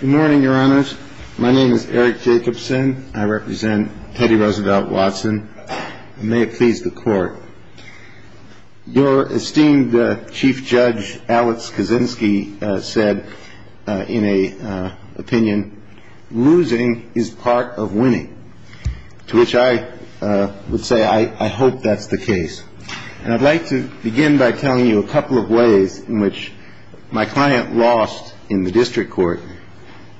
Good morning, Your Honors. My name is Eric Jacobson. I represent Teddy Roosevelt Watson. May it please the Court. Your esteemed Chief Judge Alex Kaczynski said in an opinion, losing is part of winning, to which I would say I hope that's the case. And I'd like to begin by telling you a couple of ways in which my client lost in the district court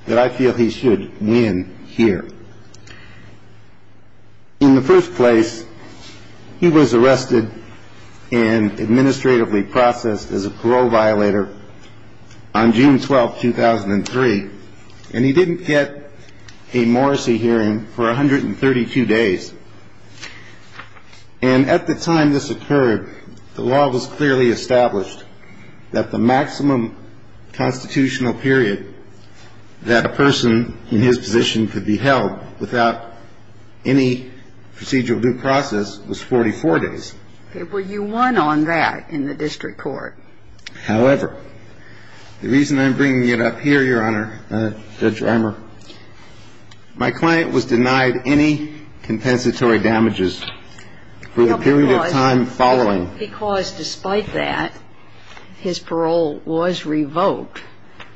that I feel he should win here. In the first place, he was arrested and administratively processed as a parole violator on June 12, 2003, and he didn't get a Morrissey hearing for 132 days. And at the time this occurred, the law was clearly established that the maximum constitutional period that a person in his position could be held without any procedural due process was 44 days. Well, you won on that in the district court. However, the reason I'm bringing it up here, Your Honor, Judge Reimer, my client was denied any compensatory damages for the period of time following. Because despite that, his parole was revoked,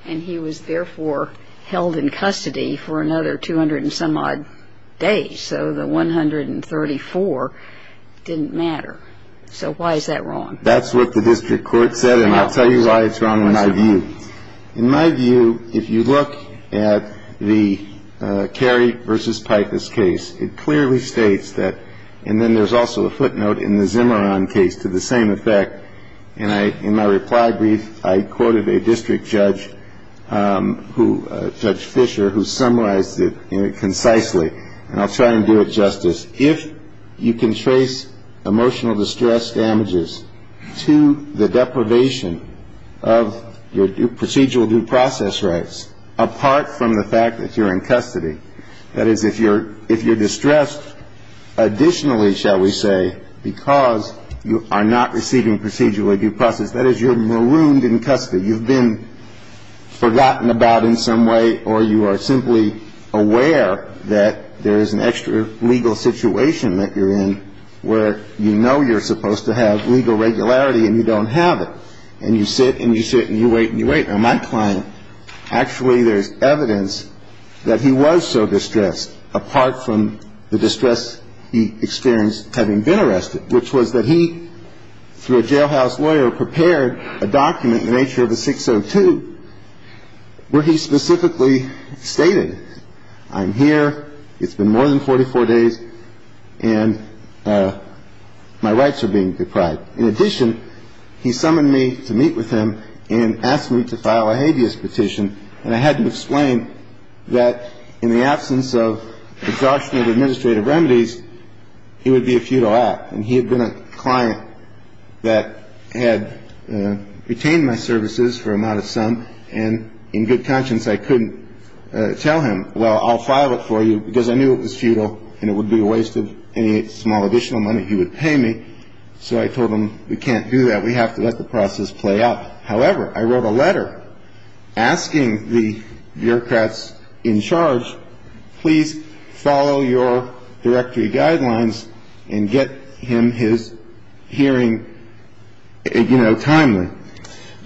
and he was therefore held in custody for another 200 and some odd days. So the 134 didn't matter. So why is that wrong? That's what the district court said. And I'll tell you why it's wrong in my view. In my view, if you look at the Kerry versus Pipe, this case, it clearly states that. And then there's also a footnote in the Zimmerman case to the same effect. And I in my reply brief, I quoted a district judge who Judge Fisher, who summarized it concisely. And I'll try and do it justice. If you can trace emotional distress damages to the deprivation of your procedural due process rights, apart from the fact that you're in custody. That is, if you're if you're distressed additionally, shall we say, because you are not receiving procedural due process, that is, you're marooned in custody. You've been forgotten about in some way, or you are simply aware that there is an extra legal situation that you're in where you know you're supposed to have legal regularity and you don't have it. And you sit and you sit and you wait and you wait. Now, my client, actually, there's evidence that he was so distressed, apart from the distress he experienced having been arrested, which was that he, through a jailhouse lawyer, prepared a document in the nature of a 602 where he specifically stated, I'm here. It's been more than 44 days and my rights are being deprived. In addition, he summoned me to meet with him and asked me to file a habeas petition. And I had to explain that in the absence of exhaustion of administrative remedies, he would be a futile act. And he had been a client that had retained my services for a modest sum. And in good conscience, I couldn't tell him, well, I'll file it for you because I knew it was futile and it would be a waste of any small additional money he would pay me. So I told him we can't do that. We have to let the process play out. However, I wrote a letter asking the bureaucrats in charge, please follow your directory guidelines and get him his hearing, you know, timely.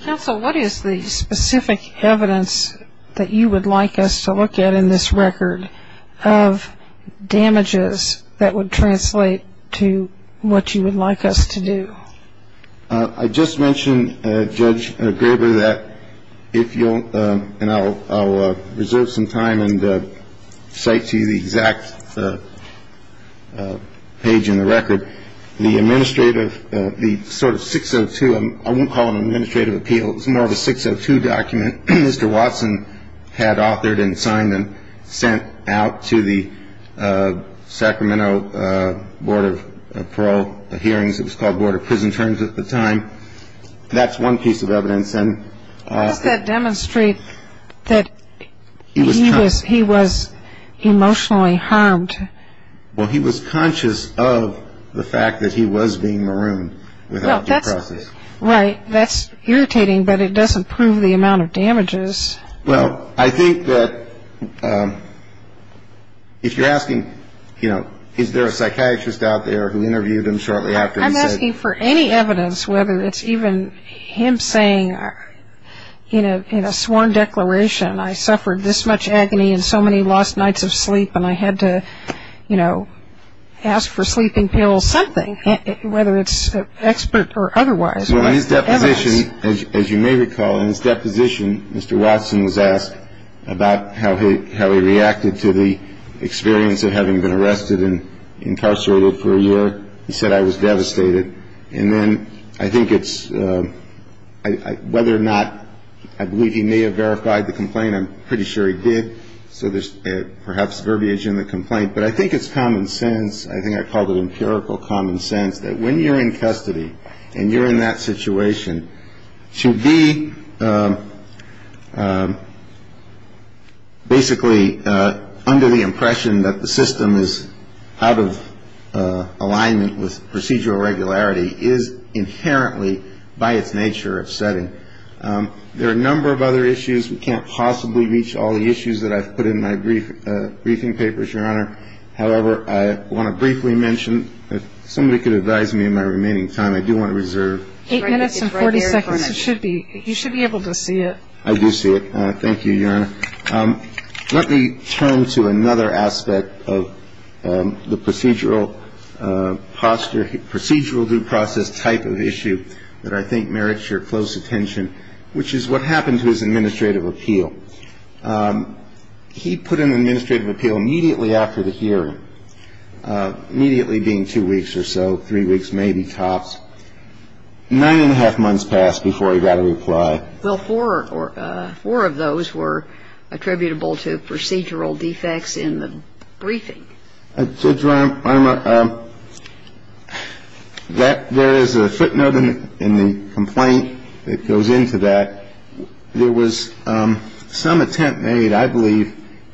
Counsel, what is the specific evidence that you would like us to look at in this record of damages that would translate to what you would like us to do? I just mentioned, Judge Graber, that if you'll and I'll reserve some time and cite to you the exact page in the record. The administrative, the sort of 602, I won't call it an administrative appeal. It's more of a 602 document Mr. Watson had authored and signed and sent out to the Sacramento Board of Parole hearings. It was called Board of Prison terms at the time. That's one piece of evidence. And that demonstrate that he was he was emotionally harmed. Well, he was conscious of the fact that he was being marooned. Well, that's right. That's irritating. But it doesn't prove the amount of damages. Well, I think that if you're asking, you know, is there a psychiatrist out there who interviewed him shortly after? I'm asking for any evidence, whether it's even him saying, you know, in a sworn declaration, I suffered this much agony and so many lost nights of sleep and I had to, you know, ask for sleeping pills, something, whether it's expert or otherwise. Well, in his deposition, as you may recall, in his deposition, Mr. Watson was asked about how he reacted to the experience of having been arrested and incarcerated for a year. He said, I was devastated. And then I think it's whether or not I believe he may have verified the complaint. I'm pretty sure he did. So there's perhaps verbiage in the complaint. But I think it's common sense. I think I called it empirical common sense that when you're in custody and you're in that situation to be. Basically, under the impression that the system is out of alignment with procedural regularity is inherently by its nature of setting. There are a number of other issues. We can't possibly reach all the issues that I've put in my brief briefing papers, Your Honor. However, I want to briefly mention that somebody could advise me in my remaining time. I do want to reserve eight minutes and 40 seconds. It should be. You should be able to see it. I do see it. Thank you, Your Honor. Let me turn to another aspect of the procedural posture, procedural due process type of issue that I think merits your close attention, which is what happened to his administrative appeal. He put in an administrative appeal immediately after the hearing, immediately being two weeks or so, three weeks maybe tops. Nine and a half months passed before he got a reply. Well, four of those were attributable to procedural defects in the briefing. Judge Reimer, there is a footnote in the complaint that goes into that. There was some attempt made, I believe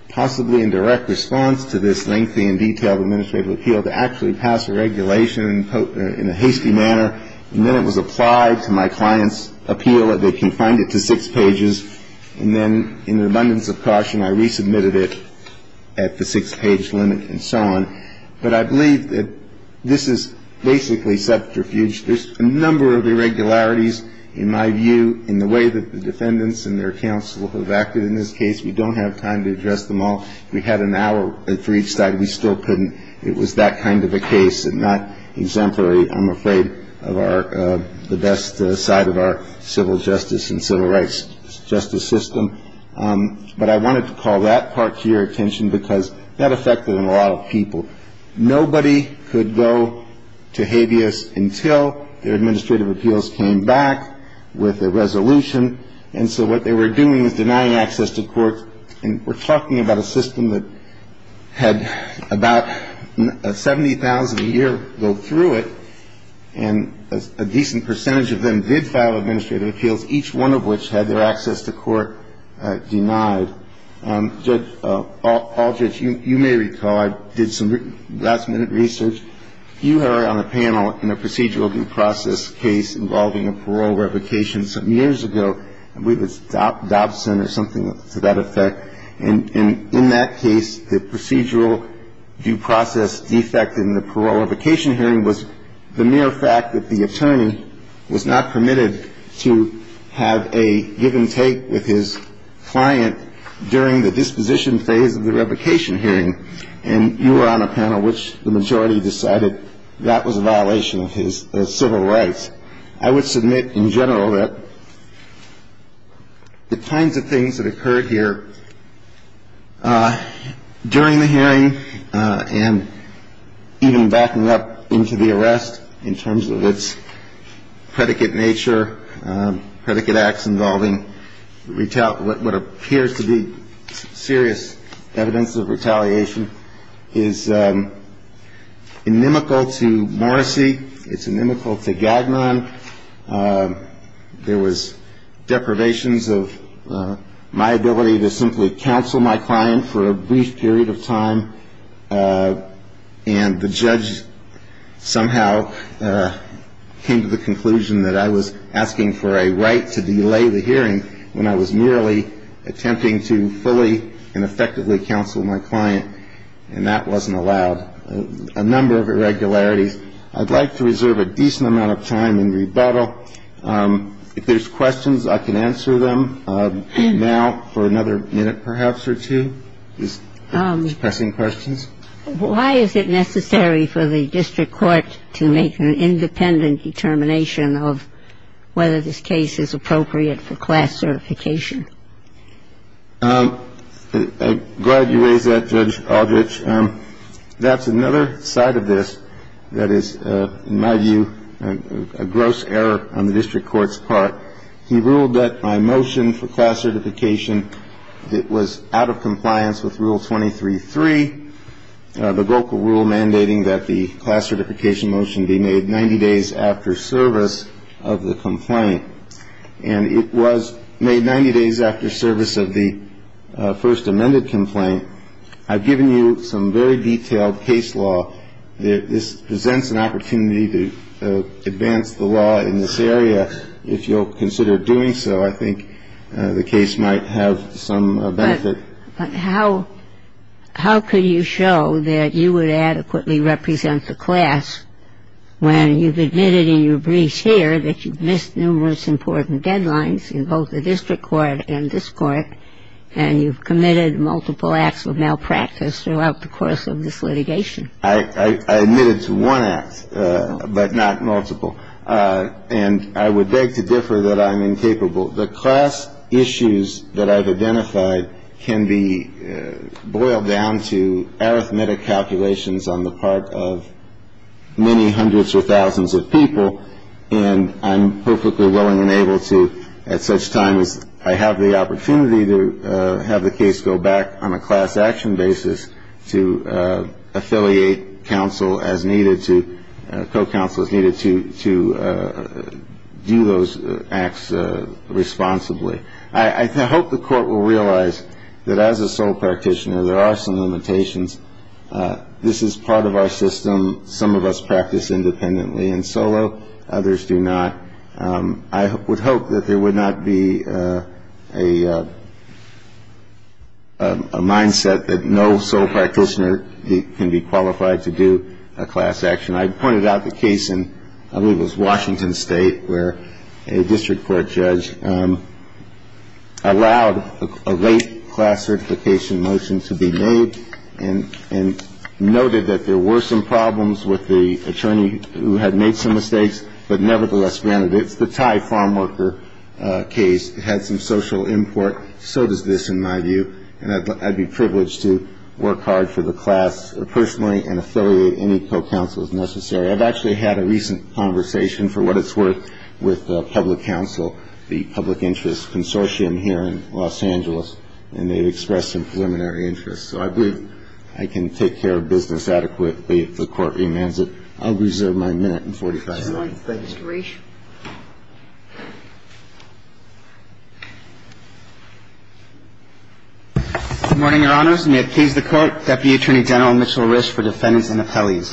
possibly in direct response to this lengthy and detailed administrative appeal, to actually pass a regulation in a hasty manner. And then it was applied to my client's appeal that they confined it to six pages. And then in an abundance of caution, I resubmitted it at the six-page limit and so on. But I believe that this is basically subterfuge. There's a number of irregularities in my view in the way that the defendants and their counsel have acted in this case. We don't have time to address them all. If we had an hour for each side, we still couldn't. It was that kind of a case and not exemplary, I'm afraid, of the best side of our civil justice and civil rights justice system. But I wanted to call that part to your attention because that affected a lot of people. Nobody could go to habeas until their administrative appeals came back with a resolution. And so what they were doing was denying access to court. And we're talking about a system that had about 70,000 a year go through it. And a decent percentage of them did file administrative appeals, each one of which had their access to court denied. Judge Aldrich, you may recall I did some last minute research. You are on a panel in a procedural due process case involving a parole revocation some years ago. I believe it's Dobson or something to that effect. And in that case, the procedural due process defect in the parole revocation hearing was the mere fact that the attorney was not permitted to have a give and take with his client during the disposition phase of the revocation hearing. And you were on a panel which the majority decided that was a violation of his civil rights. I would submit in general that the kinds of things that occurred here during the hearing and even backing up into the arrest, in terms of its predicate nature, predicate acts involving what appears to be serious evidence of retaliation, is inimical to Morrissey. It's inimical to Gagnon. There was deprivations of my ability to simply counsel my client for a brief period of time. And the judge somehow came to the conclusion that I was asking for a right to delay the hearing when I was merely attempting to fully and effectively counsel my client. And that wasn't allowed. A number of irregularities. I'd like to reserve a decent amount of time in rebuttal. If there's questions, I can answer them now for another minute perhaps or two. Is Mr. Bessing questions? Why is it necessary for the district court to make an independent determination of whether this case is appropriate for class certification? I'm glad you raised that, Judge Aldrich. That's another side of this that is, in my view, a gross error on the district court's part. He ruled that my motion for class certification was out of compliance with Rule 23.3, the GOCA rule mandating that the class certification motion be made 90 days after service of the complaint. And it was made 90 days after service of the first amended complaint. I've given you some very detailed case law. This presents an opportunity to advance the law in this area. If you'll consider doing so, I think the case might have some benefit. But how could you show that you would adequately represent the class when you've admitted in your briefs here that you've missed numerous important deadlines in both the district court and this court and you've committed multiple acts of malpractice throughout the course of this litigation? I admitted to one act, but not multiple. And I would beg to differ that I'm incapable. The class issues that I've identified can be boiled down to arithmetic calculations on the part of many hundreds or thousands of people, and I'm perfectly willing and able to at such times I have the opportunity to have the case go back on a class action basis to affiliate counsel as needed to co-counsel as needed to do those acts responsibly. I hope the court will realize that as a sole practitioner there are some limitations. This is part of our system. Some of us practice independently and solo. Others do not. I would hope that there would not be a mindset that no sole practitioner can be qualified to do a class action. I pointed out the case in I believe it was Washington State where a district court judge allowed a late class certification motion to be made and noted that there were some problems with the attorney who had made some mistakes, but nevertheless granted it's the Thai farm worker case. It had some social import. So does this in my view. And I'd be privileged to work hard for the class personally and affiliate any co-counsel as necessary. I've actually had a recent conversation for what it's worth with public counsel, the public interest consortium here in Los Angeles, and they've expressed some preliminary interest. So I believe I can take care of business adequately if the court remands it. I'll reserve my minute and 45 seconds. Thank you. Good morning, Your Honors. May it please the Court. Deputy Attorney General Mitchell Risch for defendants and appellees.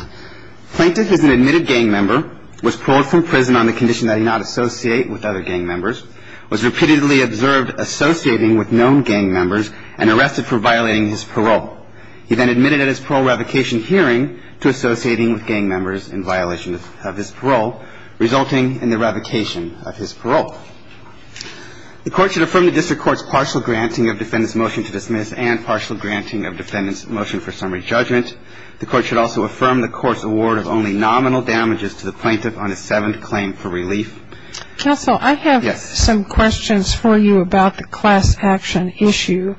Plaintiff is an admitted gang member, was paroled from prison on the condition that he not associate with other gang members, was repeatedly observed associating with known gang members, and arrested for violating his parole. He then admitted at his parole revocation hearing to associating with gang members in violation of his parole, resulting in the revocation of his parole. The court should affirm the district court's partial granting of defendant's motion to dismiss and partial granting of defendant's motion for summary judgment. The court should also affirm the court's award of only nominal damages to the plaintiff on his seventh claim for relief. Counsel, I have some questions for you about the class action issue.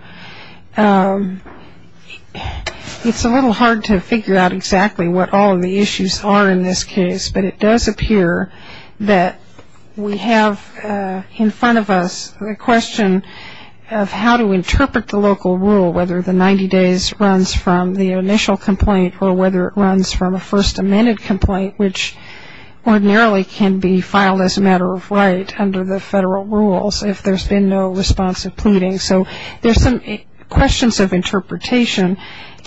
It's a little hard to figure out exactly what all of the issues are in this case, but it does appear that we have in front of us the question of how to interpret the local rule, whether the 90 days runs from the initial complaint or whether it runs from a first amended complaint, which ordinarily can be filed as a matter of right under the federal rules if there's been no responsive pleading. So there's some questions of interpretation,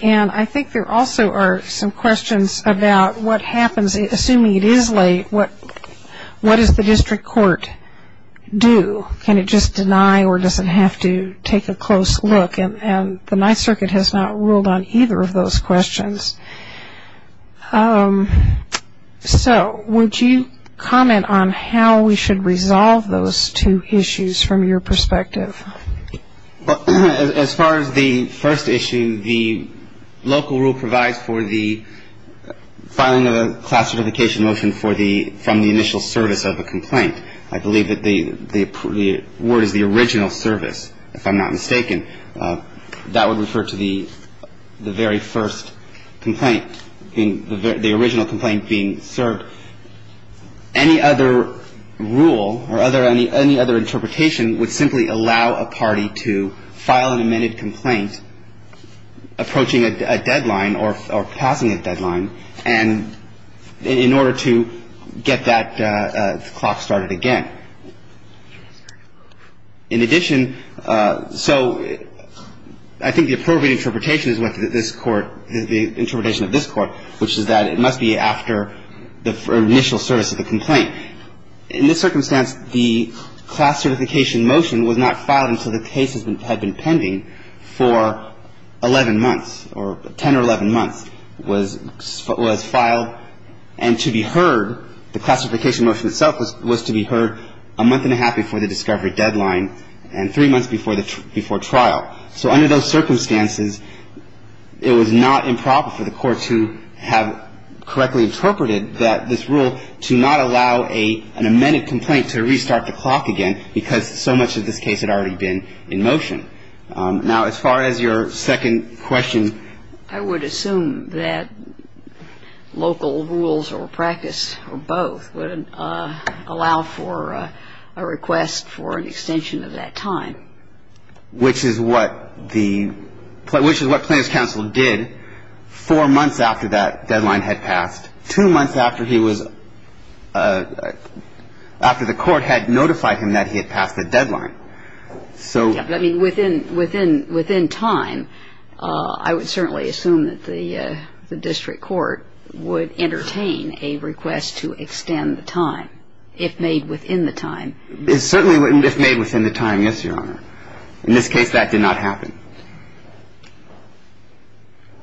and I think there also are some questions about what happens, assuming it is late, what does the district court do? Can it just deny or does it have to take a close look? And the Ninth Circuit has not ruled on either of those questions. So would you comment on how we should resolve those two issues from your perspective? As far as the first issue, the local rule provides for the filing of a class certification motion from the initial service of a complaint. I believe that the word is the original service, if I'm not mistaken. That would refer to the very first complaint, the original complaint being served. Any other rule or any other interpretation would simply allow a party to file an amended complaint approaching a deadline or passing a deadline in order to get that clock started again. In addition, so I think the appropriate interpretation is what this Court, the interpretation of this Court, which is that it must be after the initial service of the complaint. In this circumstance, the class certification motion was not filed until the case had been pending for 11 months, or 10 or 11 months was filed. And to be heard, the classification motion itself was to be heard a month and a half before the discovery deadline and three months before the trial. So under those circumstances, it was not improper for the Court to have correctly interpreted that this rule to not allow an amended complaint to restart the clock again because so much of this case had already been in motion. Now, as far as your second question. I would assume that local rules or practice or both would allow for a request for an extension of that time. Which is what the, which is what plaintiff's counsel did four months after that deadline had passed, two months after he was, after the Court had notified him that he had passed the deadline. I mean, within time, I would certainly assume that the district court would entertain a request to extend the time, if made within the time. Certainly if made within the time, yes, Your Honor. In this case, that did not happen.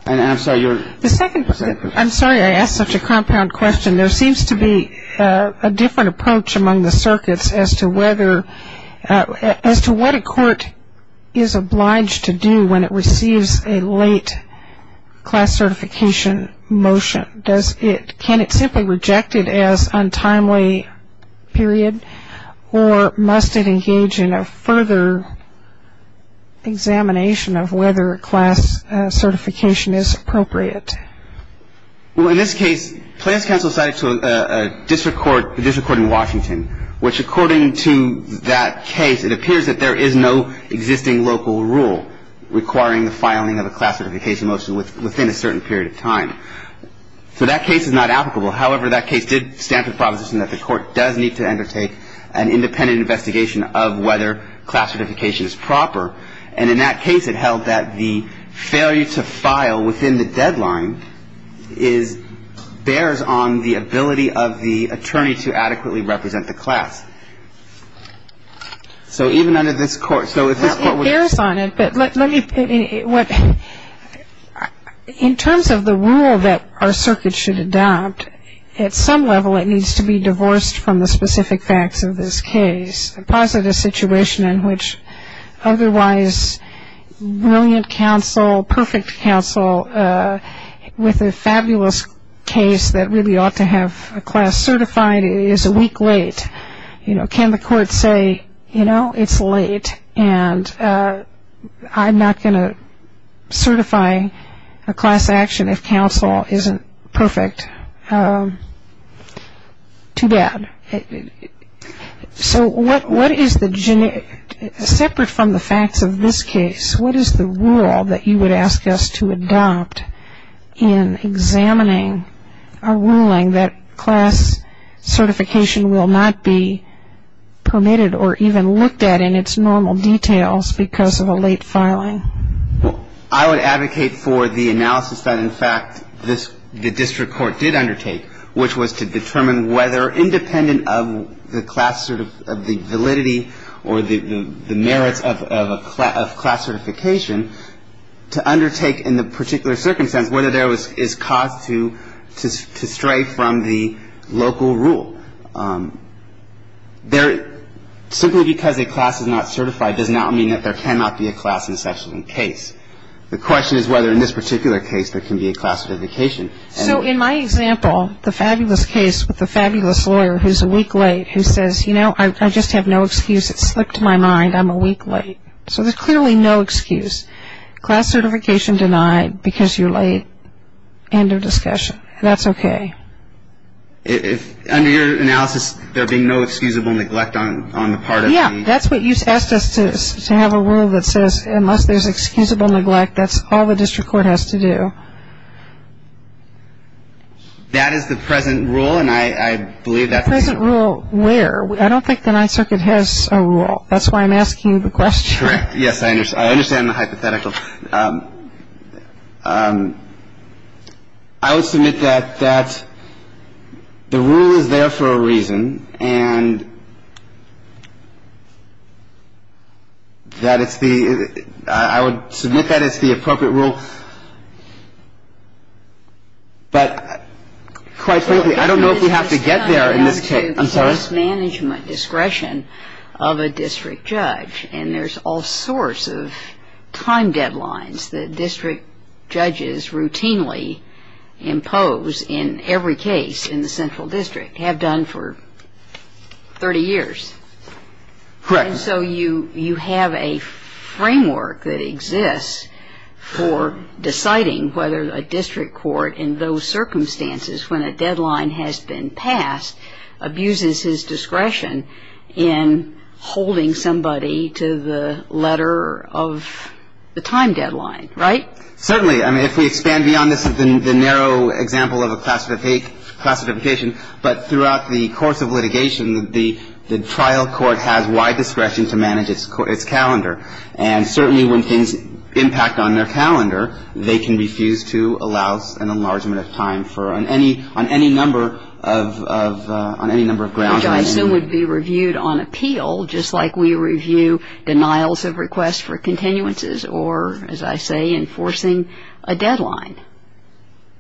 And I'm sorry, your second question. I'm sorry I asked such a compound question. There seems to be a different approach among the circuits as to whether, as to what a court is obliged to do when it receives a late class certification motion. Does it, can it simply reject it as untimely period? Or must it engage in a further examination of whether a class certification is appropriate? Well, in this case, plaintiff's counsel cited to a district court, the district court in Washington, which according to that case, it appears that there is no existing local rule requiring the filing of a class certification motion within a certain period of time. So that case is not applicable. However, that case did stand for the proposition that the Court does need to undertake an independent investigation of whether class certification is proper. And in that case, it held that the failure to file within the deadline is, bears on the ability of the attorney to adequately represent the class. So even under this court, so if this court would. It bears on it, but let me, in terms of the rule that our circuit should adopt, at some level it needs to be divorced from the specific facts of this case. A positive situation in which otherwise brilliant counsel, perfect counsel, with a fabulous case that really ought to have a class certified is a week late. You know, can the court say, you know, it's late, and I'm not going to certify a class action if counsel isn't perfect. Too bad. So what is the, separate from the facts of this case, what is the rule that you would ask us to adopt in examining a ruling that class certification will not be permitted or even looked at in its normal details because of a late filing? I would advocate for the analysis that, in fact, the district court did undertake, which was to determine whether, independent of the class, of the validity or the merits of class certification, to undertake in the particular circumstance whether there is cause to stray from the local rule. Simply because a class is not certified does not mean that there cannot be a class in such a case. The question is whether in this particular case there can be a class certification. So in my example, the fabulous case with the fabulous lawyer who's a week late who says, you know, I just have no excuse. It slipped my mind. I'm a week late. So there's clearly no excuse. Class certification denied because you're late. End of discussion. That's okay. Under your analysis, there being no excusable neglect on the part of the? Yeah, that's what you asked us to have a rule that says unless there's excusable neglect, that's all the district court has to do. That is the present rule, and I believe that's? The present rule where? I don't think the Ninth Circuit has a rule. That's why I'm asking you the question. Correct. Yes, I understand the hypothetical. I would submit that the rule is there for a reason, and that it's the – I would submit that it's the appropriate rule. But quite frankly, I don't know if we have to get there in this case. I'm sorry? There's a risk management discretion of a district judge, and there's all sorts of time deadlines that district judges routinely impose in every case in the central district, have done for 30 years. Correct. And so you have a framework that exists for deciding whether a district court in those circumstances when a deadline has been passed abuses his discretion in holding somebody to the letter of the time deadline. Right? Certainly. I mean, if we expand beyond this, the narrow example of a classification, but throughout the course of litigation, the trial court has wide discretion to manage its calendar. And certainly when things impact on their calendar, they can refuse to allow an enlargement of time on any number of grounds. Which I assume would be reviewed on appeal, just like we review denials of requests for continuances, or, as I say, enforcing a deadline.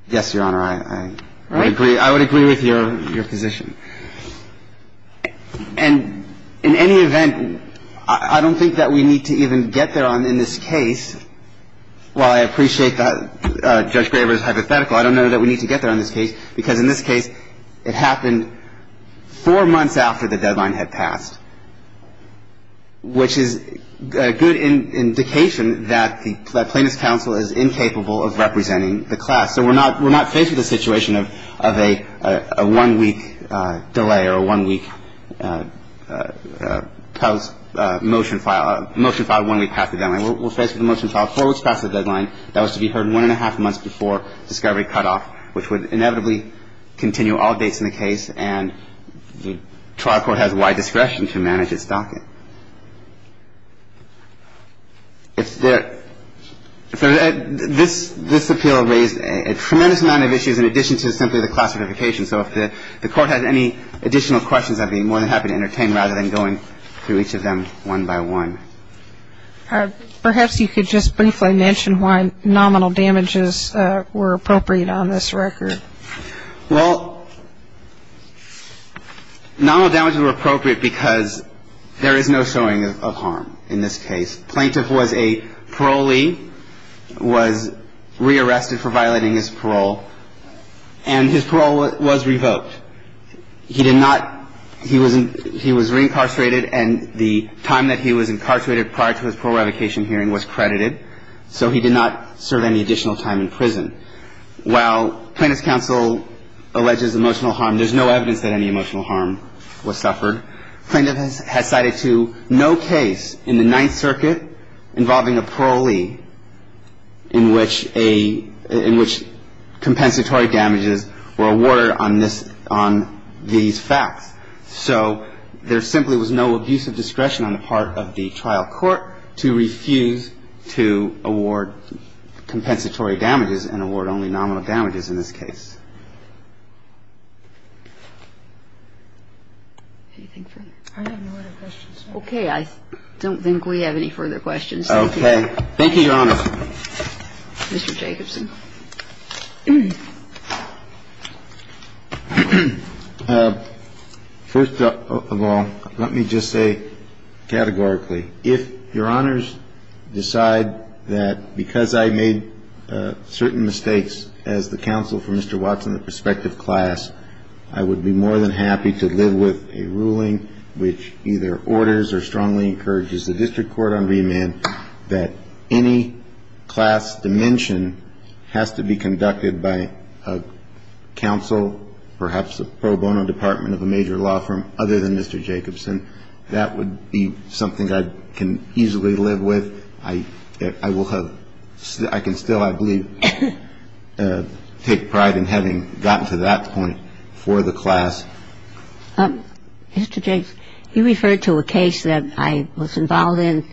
Yes, Your Honor. Right? I would agree. I would agree with your position. And in any event, I don't think that we need to even get there on in this case, while I appreciate that Judge Graber's hypothetical, I don't know that we need to get there on this case, because in this case it happened four months after the deadline had passed, which is a good indication that the plaintiff's counsel is incapable of representing the class. So we're not faced with a situation of a one-week delay or a one-week motion filed one week after the deadline. We're faced with a motion filed four weeks past the deadline that was to be heard one-and-a-half months before discovery cutoff, which would inevitably continue all dates in the case. And the trial court has wide discretion to manage its docket. If there — this appeal raised a tremendous amount of issues in addition to simply the classification. So if the Court has any additional questions, I'd be more than happy to entertain, rather than going through each of them one by one. Perhaps you could just briefly mention why nominal damages were appropriate on this record. Well, nominal damages were appropriate because there is no showing of harm in this case. Plaintiff was a parolee, was rearrested for violating his parole, and his parole was revoked. He did not — he was — he was reincarcerated, and the time that he was incarcerated prior to his parole revocation hearing was credited, so he did not serve any additional time in prison. While Plaintiff's counsel alleges emotional harm, there's no evidence that any emotional harm was suffered. Plaintiff has cited to no case in the Ninth Circuit involving a parolee in which a — in which compensatory damages were awarded on this — on these facts. So there simply was no abuse of discretion on the part of the trial court to refuse to award compensatory damages and award only nominal damages in this case. Anything further? I have no other questions. Okay. I don't think we have any further questions. Okay. Thank you, Your Honor. Mr. Jacobson. First of all, let me just say categorically, if Your Honors decide that because I made certain mistakes as the counsel for Mr. Watson, the prospective class, I would be more than happy to live with a ruling which either orders or strongly encourages the district court on remand that any class dimension has to be conducted by a counsel, perhaps a pro bono department of a major law firm, other than Mr. Jacobson, that would be something I can easily live with. I will have — I can still, I believe, take pride in having gotten to that point for the class. Mr. Jacobson, you referred to a case that I was involved in.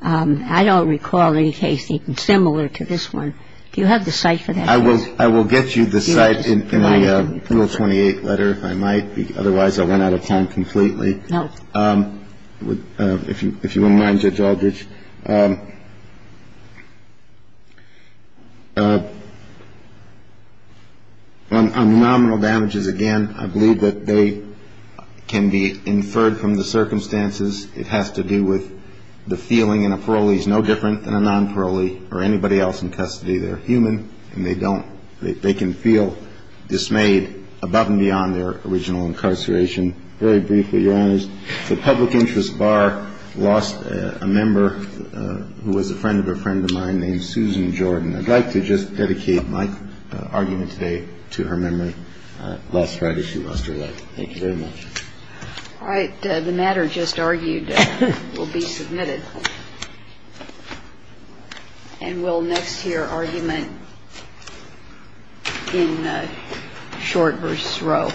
I don't recall any case even similar to this one. Do you have the cite for that case? I will get you the cite in my Rule 28 letter, if I might. Otherwise, I went out of time completely. No. If you wouldn't mind, Judge Aldridge. On nominal damages, again, I believe that they can be inferred from the circumstances. It has to do with the feeling. And a parolee is no different than a non-parolee or anybody else in custody. They're human, and they don't — they can feel dismayed above and beyond their original incarceration. Very briefly, Your Honors, the public interest bar lost a member who was a friend of a friend of mine named Susan Jordan. I'd like to just dedicate my argument today to her memory. Last Friday, she lost her life. Thank you very much. All right. The matter just argued will be submitted. And we'll next hear argument in short verse row.